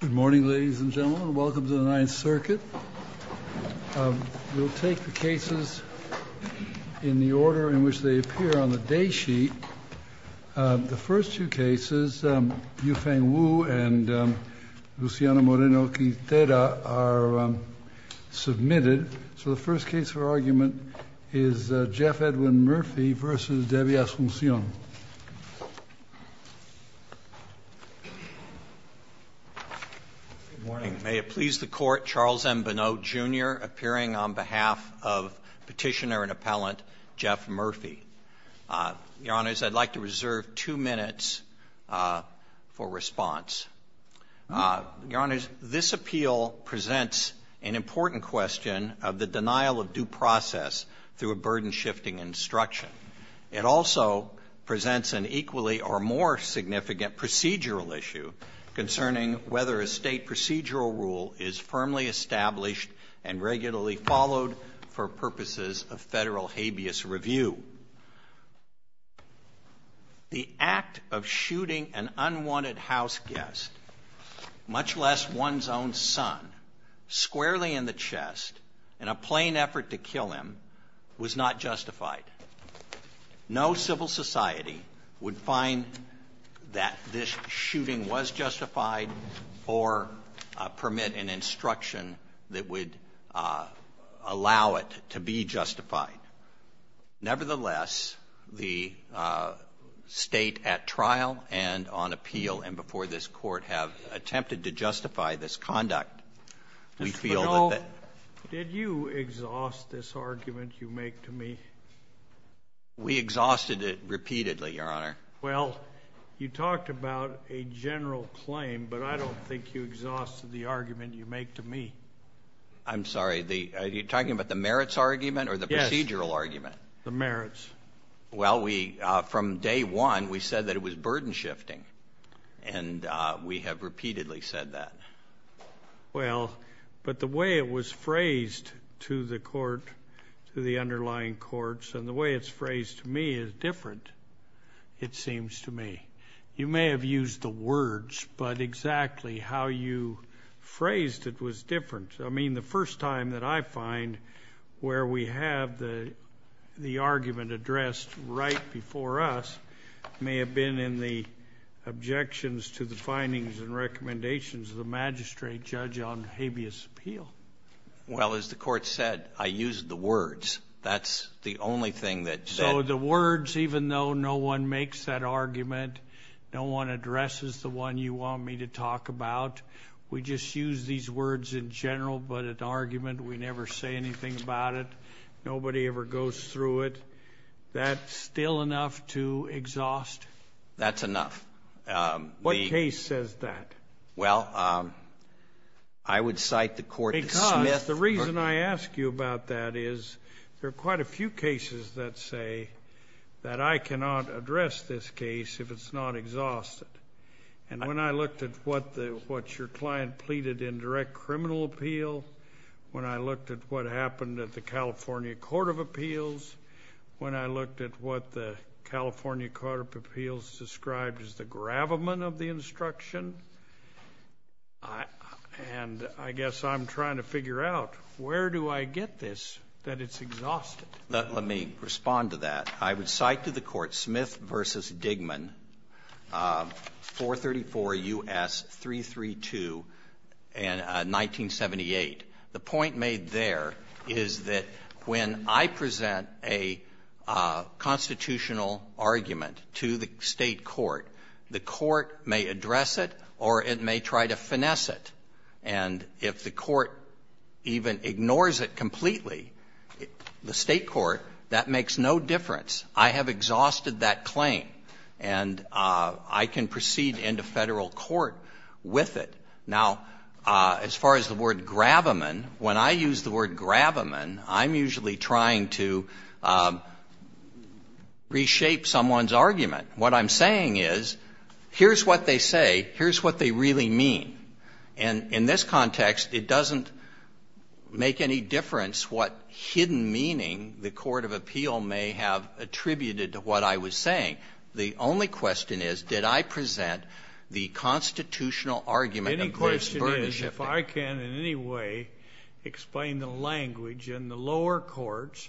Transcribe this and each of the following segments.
Good morning ladies and gentlemen, welcome to the Ninth Circuit. We'll take the cases in the order in which they appear on the day sheet. The first two cases, Yufeng Wu and Luciano Moreno-Quintera are submitted. So the first case for argument is Jeff Edwin Murphy v. Debbie Asuncion. Good morning. May it please the Court, Charles M. Bennot, Jr. appearing on behalf of Petitioner and Appellant Jeff Murphy. Your Honors, I'd like to reserve two minutes for response. Your Honors, this appeal presents an important question of the denial of due process through a burden-shifting instruction. It also presents an equally or more significant procedural issue concerning whether a State procedural rule is firmly established and regularly followed for purposes of Federal habeas review. The act of shooting an unwanted house guest, much less one's own son, squarely in the chest in a plain effort to kill him, was not justified. No civil society would find that this shooting was justified or permit an instruction that would allow it to be justified. Nevertheless, the State at trial and on appeal and before this Court have attempted to justify this conduct, we feel that the — Did you exhaust this argument you make to me? We exhausted it repeatedly, Your Honor. Well, you talked about a general claim, but I don't think you exhausted the argument you make to me. I'm sorry, are you talking about the merits argument or the procedural argument? Yes, the merits. Well, from day one, we said that it was burden-shifting, and we have repeatedly said that. Well, but the way it was phrased to the Court, to the underlying courts, and the way it's phrased to me is different, it seems to me. You may have used the words, but exactly how you phrased it was different. I mean, the first time that I find where we have the argument addressed right before us may have been in the objections to the findings and recommendations of the magistrate judge on habeas appeal. Well, as the Court said, I used the words. That's the only thing that said— No one addresses the one you want me to talk about. We just use these words in general, but at argument, we never say anything about it. Nobody ever goes through it. That's still enough to exhaust? That's enough. What case says that? Well, I would cite the court to Smith. The reason I ask you about that is there are quite a few cases that say that I cannot address this case if it's not exhausted. And when I looked at what your client pleaded in direct criminal appeal, when I looked at what happened at the California Court of Appeals, when I looked at what the California Court of Appeals described as the gravamen of the instruction, and I guess I'm trying to figure out where do I get this, that it's exhausted? Let me respond to that. I would cite to the court Smith v. Digman, 434 U.S. 332, 1978. The point made there is that when I present a constitutional argument to the State court, the court may address it or it may try to finesse it. And if the court even ignores it completely, the State court, that makes no difference. I have exhausted that claim, and I can proceed into Federal court with it. Now, as far as the word gravamen, when I use the word gravamen, I'm usually trying to reshape someone's argument. What I'm saying is, here's what they say, here's what they really mean. And in this context, it doesn't make any difference what hidden meaning the court of appeal may have attributed to what I was saying. The only question is, did I present the constitutional argument of Bruce Burnish? If I can in any way explain the language in the lower courts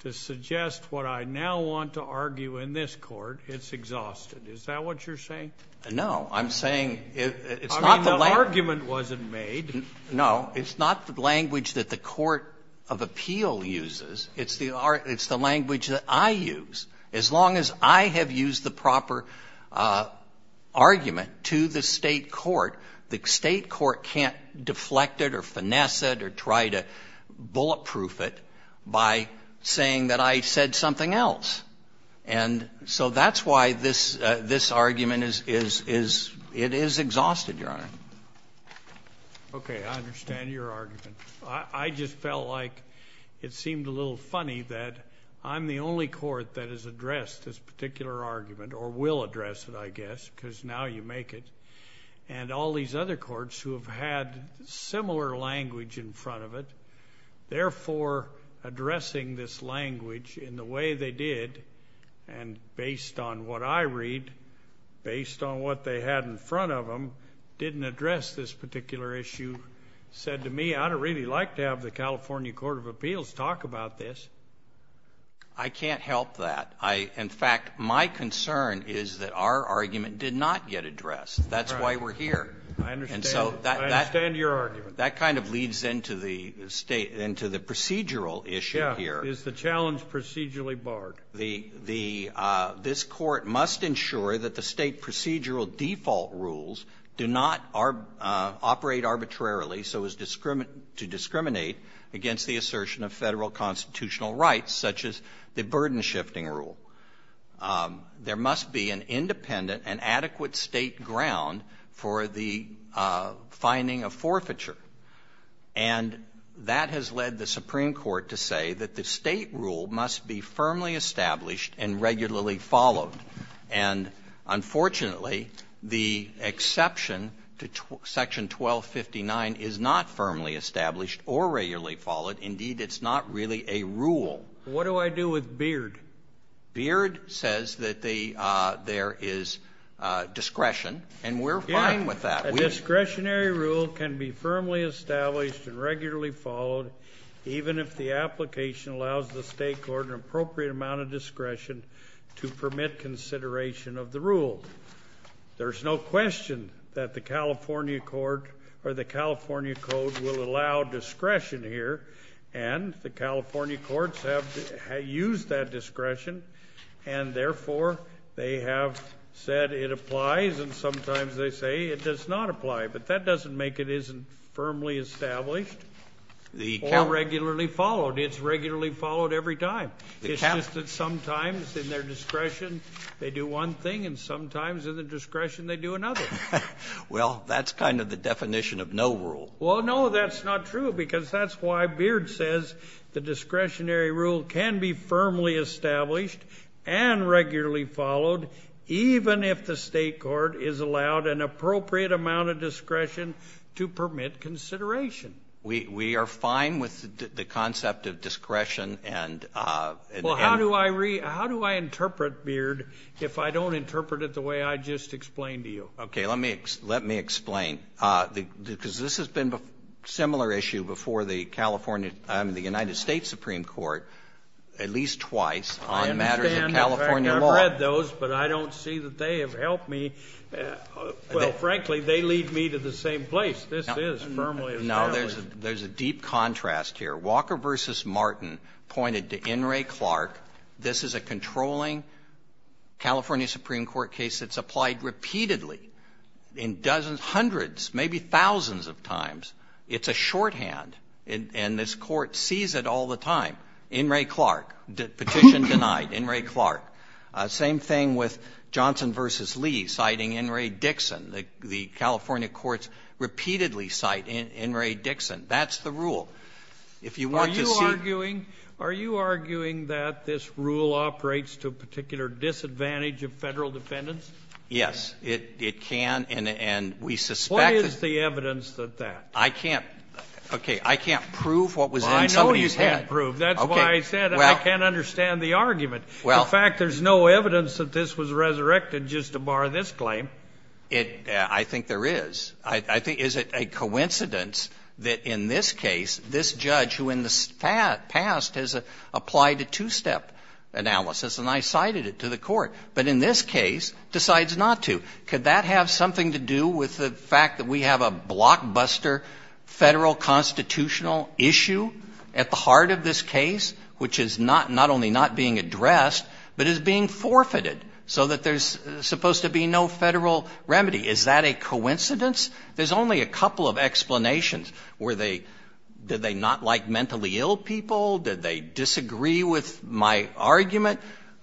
to suggest what I now want to argue in this court, it's exhausted. Is that what you're saying? No. I'm saying it's not the language. I mean, the argument wasn't made. No. It's not the language that the court of appeal uses. It's the language that I use. As long as I have used the proper argument to the State court, the State court can't deflect it or finesse it or try to bulletproof it by saying that I said something else. And so that's why this argument is exhausted, Your Honor. Okay. I understand your argument. I just felt like it seemed a little funny that I'm the only court that has addressed this particular argument or will address it, I guess, because now you make it. And all these other courts who have had similar language in front of it, therefore addressing this language in the way they did and based on what I read, based on what they had in front of them, didn't address this particular issue, said to me, I'd really like to have the California Court of Appeals talk about this. I can't help that. In fact, my concern is that our argument did not get addressed. That's why we're here. I understand. I understand your argument. And so that kind of leads into the procedural issue here. Yeah. Is the challenge procedurally barred? This court must ensure that the state procedural default rules do not operate arbitrarily so as to discriminate against the assertion of federal constitutional rights, such as the burden-shifting rule. There must be an independent and adequate state ground for the finding of forfeiture. And that has led the Supreme Court to say that the state rule must be firmly established and regularly followed. And, unfortunately, the exception to Section 1259 is not firmly established or regularly followed. Indeed, it's not really a rule. What do I do with Beard? Beard says that there is discretion, and we're fine with that. A discretionary rule can be firmly established and regularly followed, even if the application allows the state court an appropriate amount of discretion to permit consideration of the rule. There's no question that the California Code will allow discretion here, and the California courts have used that discretion, and, therefore, they have said it applies, and sometimes they say it does not apply. But that doesn't make it isn't firmly established or regularly followed. It's regularly followed every time. It's just that sometimes in their discretion they do one thing, and sometimes in their discretion they do another. Well, that's kind of the definition of no rule. Well, no, that's not true, because that's why Beard says the discretionary rule can be firmly established and regularly followed, even if the state court is allowed an appropriate amount of discretion to permit consideration. We are fine with the concept of discretion. Well, how do I interpret Beard if I don't interpret it the way I just explained to you? Okay, let me explain. Because this has been a similar issue before the California or the United States Supreme Court at least twice on matters of California law. I understand. In fact, I've read those, but I don't see that they have helped me. Well, frankly, they lead me to the same place. This is firmly established. No, there's a deep contrast here. Walker v. Martin pointed to In re Clark. This is a controlling California Supreme Court case that's applied repeatedly in dozens, hundreds, maybe thousands of times. It's a shorthand, and this Court sees it all the time. In re Clark, petition denied. In re Clark. Same thing with Johnson v. Lee citing In re Dixon. The California courts repeatedly cite In re Dixon. That's the rule. If you want to see. Are you arguing that this rule operates to a particular disadvantage of Federal defendants? Yes. It can, and we suspect. What is the evidence that that? I can't. Okay. I can't prove what was in somebody's head. I know you can't prove. That's why I said I can't understand the argument. In fact, there's no evidence that this was resurrected just to bar this claim. I think there is. I think is it a coincidence that in this case, this judge who in the past has applied a two-step analysis, and I cited it to the Court, but in this case decides not to. Could that have something to do with the fact that we have a blockbuster Federal constitutional issue at the heart of this case, which is not only not being addressed, but is being forfeited so that there's supposed to be no Federal remedy? Is that a coincidence? There's only a couple of explanations. Were they, did they not like mentally ill people? Did they disagree with my argument?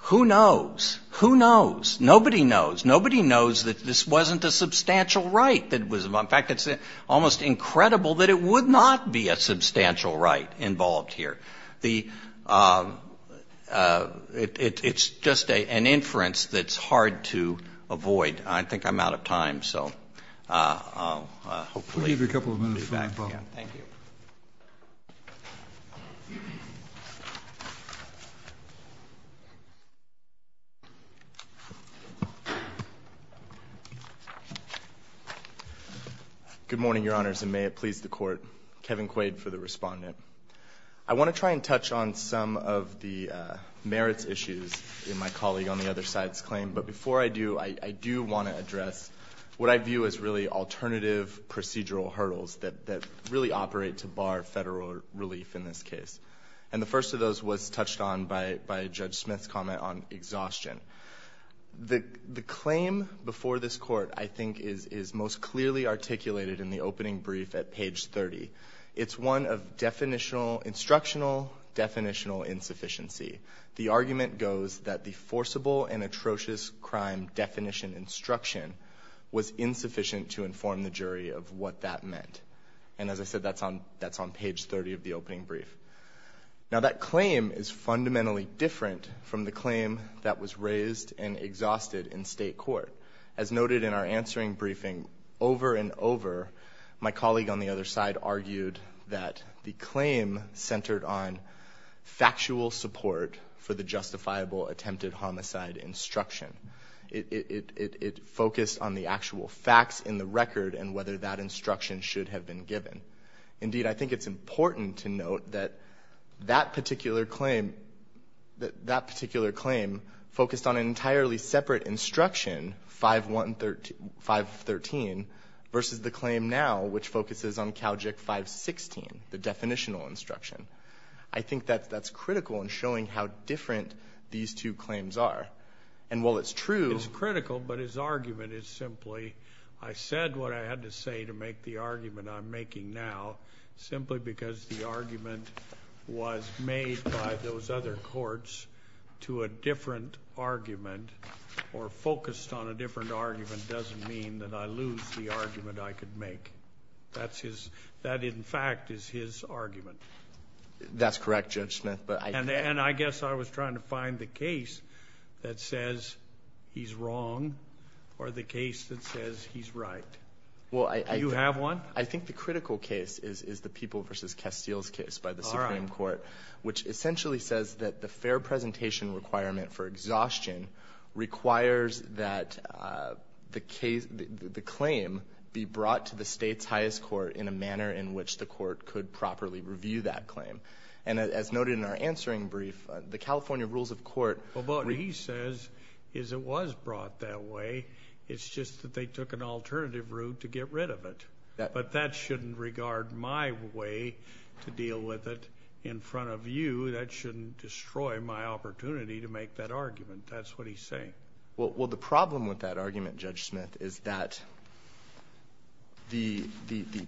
Who knows? Who knows? Nobody knows. Nobody knows that this wasn't a substantial right that was involved. In fact, it's almost incredible that it would not be a substantial right involved here. The ‑‑ it's just an inference that's hard to avoid. I think I'm out of time. So hopefully ‑‑ We'll give you a couple of minutes. Thank you. Good morning, Your Honors, and may it please the Court. Kevin Quaid for the Respondent. I want to try and touch on some of the merits issues in my colleague on the other side's claim. But before I do, I do want to address what I view as really alternative procedural hurdles that really operate to bar Federal relief in this case. And the first of those was touched on by Judge Smith's comment on exhaustion. The claim before this Court, I think, is most clearly articulated in the opening brief at page 30. It's one of definitional ‑‑ instructional definitional insufficiency. The argument goes that the forcible and atrocious crime definition instruction was insufficient to inform the jury of what that meant. And as I said, that's on page 30 of the opening brief. Now, that claim is fundamentally different from the claim that was raised and exhausted in State court. As noted in our answering briefing, over and over, my colleague on the other side argued that the claim centered on factual support for the justifiable attempted homicide instruction. It focused on the actual facts in the record and whether that instruction should have been given. Indeed, I think it's important to note that that particular claim, that particular claim focused on an entirely separate instruction, 513, versus the claim now, which focuses on Calgic 516, the definitional instruction. I think that that's critical in showing how different these two claims are. And while it's true ‑‑ It's critical, but his argument is simply, I said what I had to say to make the argument I'm making now, simply because the argument was made by those other courts to a different argument or focused on a different argument doesn't mean that I lose the argument I could make. That's his ‑‑ that, in fact, is his argument. That's correct, Judge Smith. And I guess I was trying to find the case that says he's wrong or the case that says he's right. Do you have one? I think the critical case is the People v. Castile's case by the Supreme Court, which essentially says that the fair presentation requirement for exhaustion requires that the claim be brought to the state's highest court in a manner in which the court could properly review that claim. And as noted in our answering brief, the California Rules of Court ‑‑ What he says is it was brought that way. It's just that they took an alternative route to get rid of it. But that shouldn't regard my way to deal with it in front of you. That shouldn't destroy my opportunity to make that argument. That's what he's saying. Well, the problem with that argument, Judge Smith, is that the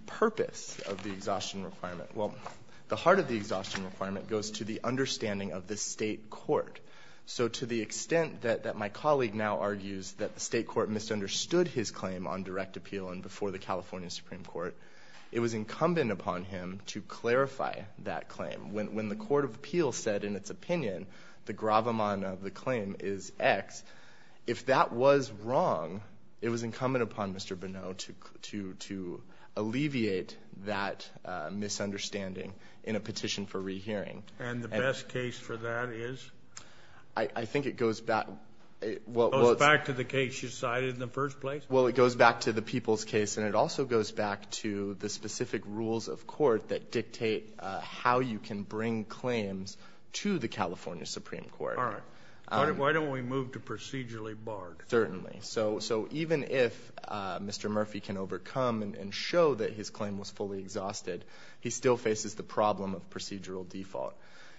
purpose of the exhaustion requirement ‑‑ well, the heart of the exhaustion requirement goes to the understanding of the state court. So to the extent that my colleague now argues that the state court misunderstood his claim on direct appeal and before the California Supreme Court, it was incumbent upon him to clarify that claim. When the court of appeals said in its opinion the gravamana of the claim is X, if that was wrong, it was incumbent upon Mr. Bonneau to alleviate that misunderstanding in a petition for rehearing. And the best case for that is? I think it goes back ‑‑ It goes back to the case you cited in the first place? Well, it goes back to the people's case. And it also goes back to the specific rules of court that dictate how you can bring claims to the California Supreme Court. All right. Why don't we move to procedurally barred? Certainly. So even if Mr. Murphy can overcome and show that his claim was fully exhausted, he still faces the problem of procedural default.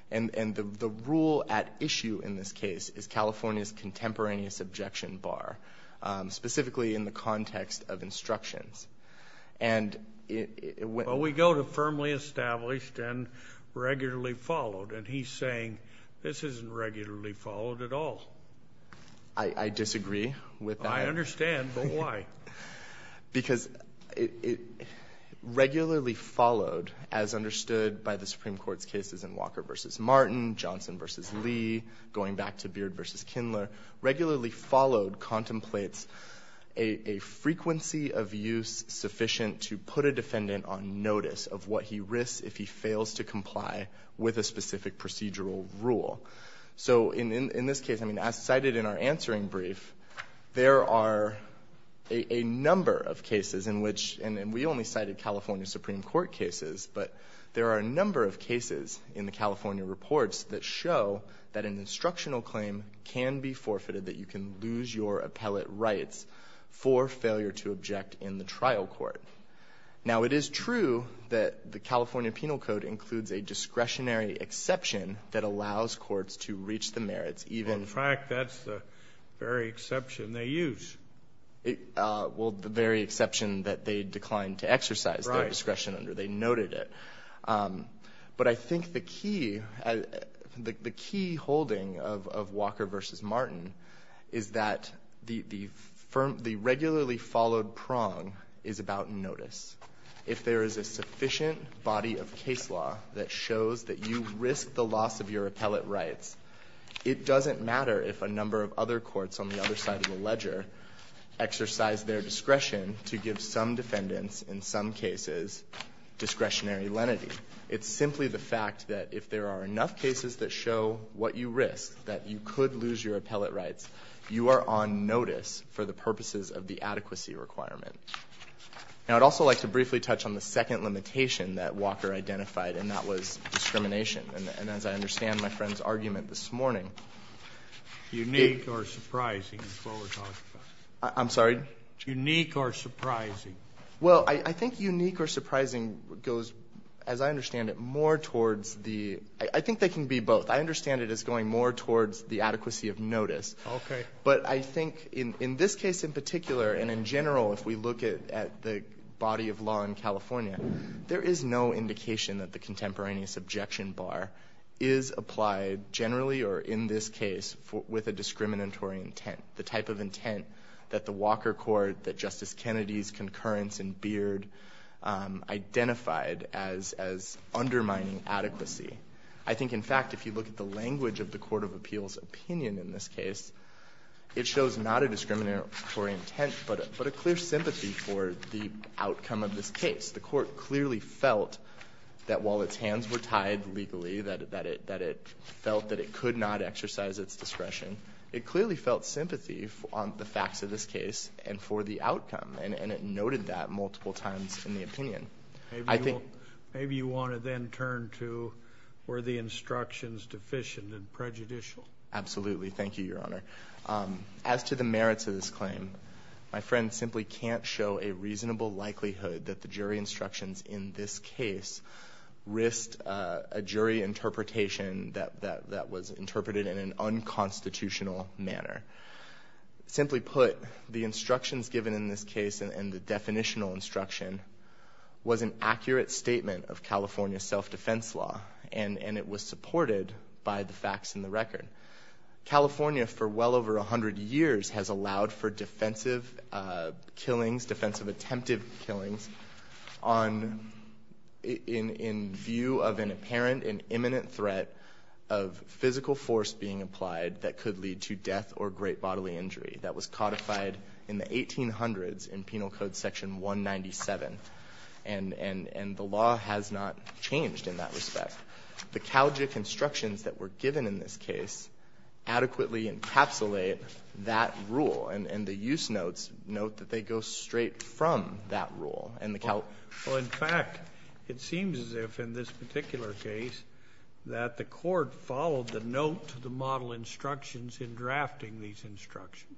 And the rule at issue in this case is California's contemporaneous objection bar, specifically in the context of instructions. And ‑‑ Well, we go to firmly established and regularly followed. And he's saying this isn't regularly followed at all. I disagree with that. I understand. But why? Because it regularly followed, as understood by the Supreme Court's cases in Walker v. Martin, Johnson v. Lee, going back to Beard v. Kindler, regularly followed contemplates a frequency of use sufficient to put a defendant on notice of what he risks if he fails to comply with a specific procedural rule. So in this case, I mean, as cited in our answering brief, there are a number of cases in which ‑‑ and we only cited California Supreme Court cases. But there are a number of cases in the California reports that show that an instructional claim can be forfeited, that you can lose your appellate rights for failure to object in the trial court. Now, it is true that the California Penal Code includes a In fact, that's the very exception they use. Well, the very exception that they declined to exercise their discretion under. They noted it. But I think the key holding of Walker v. Martin is that the regularly followed prong is about notice. If there is a sufficient body of case law that shows that you risk the loss of your appellate rights, it doesn't matter if a number of other courts on the other side of the ledger exercise their discretion to give some defendants, in some cases, discretionary lenity. It's simply the fact that if there are enough cases that show what you risk, that you could lose your appellate rights, you are on notice for the purposes of the adequacy requirement. Now, I'd also like to briefly touch on the second limitation that Walker identified, and that was discrimination. And as I understand my friend's argument this morning, Unique or surprising is what we're talking about. I'm sorry? Unique or surprising. Well, I think unique or surprising goes, as I understand it, more towards the – I think they can be both. I understand it as going more towards the adequacy of notice. Okay. But I think in this case in particular and in general, if we look at the body of law in California, there is no indication that the contemporaneous objection bar is applied generally or in this case with a discriminatory intent. The type of intent that the Walker court, that Justice Kennedy's concurrence in Beard identified as undermining adequacy. I think, in fact, if you look at the language of the court of appeals opinion in this case, it shows not a discriminatory intent but a clear sympathy for the outcome of this case. The court clearly felt that while its hands were tied legally, that it felt that it could not exercise its discretion, it clearly felt sympathy on the facts of this case and for the outcome, and it noted that multiple times in the opinion. Maybe you want to then turn to were the instructions deficient and prejudicial. Absolutely. Thank you, Your Honor. As to the merits of this claim, my friend simply can't show a reasonable likelihood that the jury instructions in this case risked a jury interpretation that was interpreted in an unconstitutional manner. Simply put, the instructions given in this case and the definitional instruction was an accurate statement of California self-defense law, and it was supported by the facts in the record. California for well over 100 years has allowed for defensive killings, defensive attempted killings in view of an apparent and imminent threat of physical force being applied that could lead to death or great bodily injury. That was codified in the 1800s in Penal Code Section 197, and the law has not changed in that respect. The CalGIC instructions that were given in this case adequately encapsulate that rule, and the use notes note that they go straight from that rule. Well, in fact, it seems as if in this particular case that the court followed the note to the model instructions in drafting these instructions.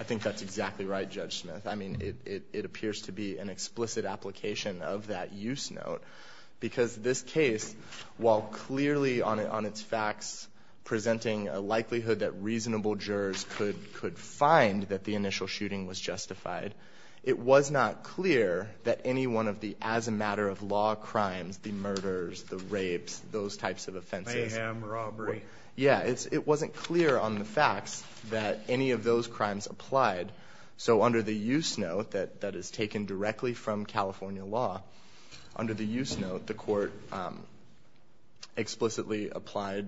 I think that's exactly right, Judge Smith. I mean, it appears to be an explicit application of that use note, because this case, while clearly on its facts presenting a likelihood that reasonable jurors could find that the initial shooting was justified, it was not clear that any one of the as a matter of law crimes, the murders, the rapes, those types of offenses. Mayhem, robbery. Yeah, it wasn't clear on the facts that any of those crimes applied. So under the use note that is taken directly from California law, under the use note the court explicitly applied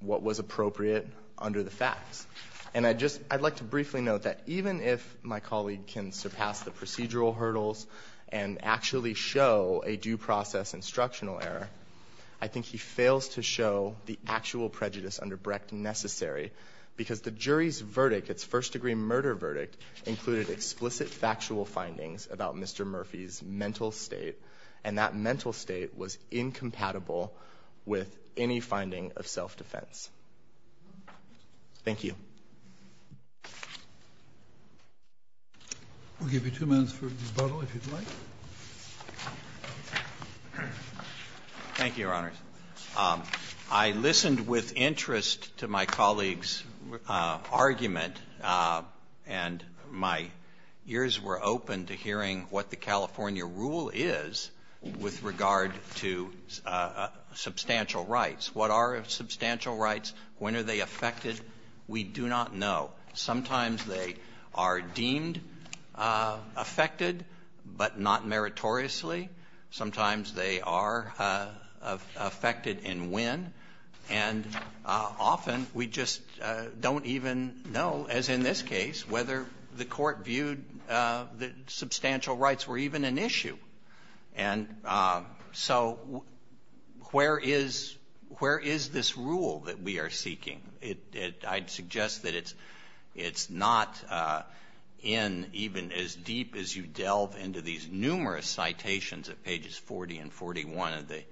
what was appropriate under the facts. And I'd like to briefly note that even if my colleague can surpass the procedural hurdles and actually show a due process instructional error, I think he fails to show the actual prejudice under Brecht necessary, because the jury's verdict, its first degree murder verdict, included explicit factual findings about Mr. Murphy's mental state, and that mental state was incompatible with any finding of self-defense. Thank you. We'll give you two minutes for rebuttal if you'd like. Thank you, Your Honors. I listened with interest to my colleague's argument, and my ears were opened to hearing what the California rule is with regard to substantial rights. What are substantial rights? When are they affected? We do not know. Sometimes they are deemed affected, but not meritoriously. Sometimes they are affected and when. And often we just don't even know, as in this case, whether the court viewed that substantial rights were even an issue. And so where is this rule that we are seeking? I'd suggest that it's not in even as deep as you delve into these numerous citations at pages 40 and 41 of the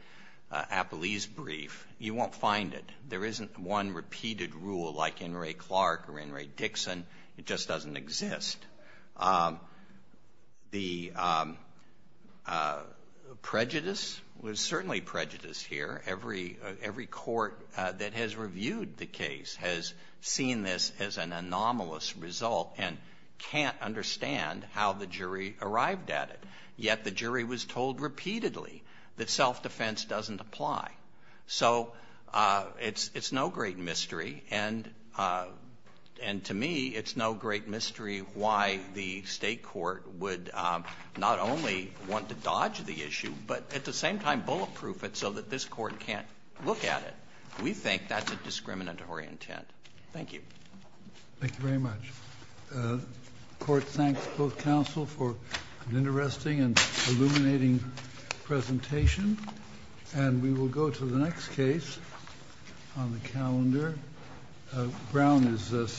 Appellee's Brief. You won't find it. There isn't one repeated rule like in Ray Clark or in Ray Dixon. It just doesn't exist. The prejudice was certainly prejudice here. Every court that has reviewed the case has seen this as an anomalous result and can't understand how the jury arrived at it. Yet the jury was told repeatedly that self-defense doesn't apply. So it's no great mystery. And to me, it's no great mystery why the State court would not only want to dodge the issue, but at the same time bulletproof it so that this court can't look at it. We think that's a discriminatory intent. Thank you. Thank you very much. The court thanks both counsel for an interesting and illuminating presentation. And we will go to the next case on the calendar. Brown is second.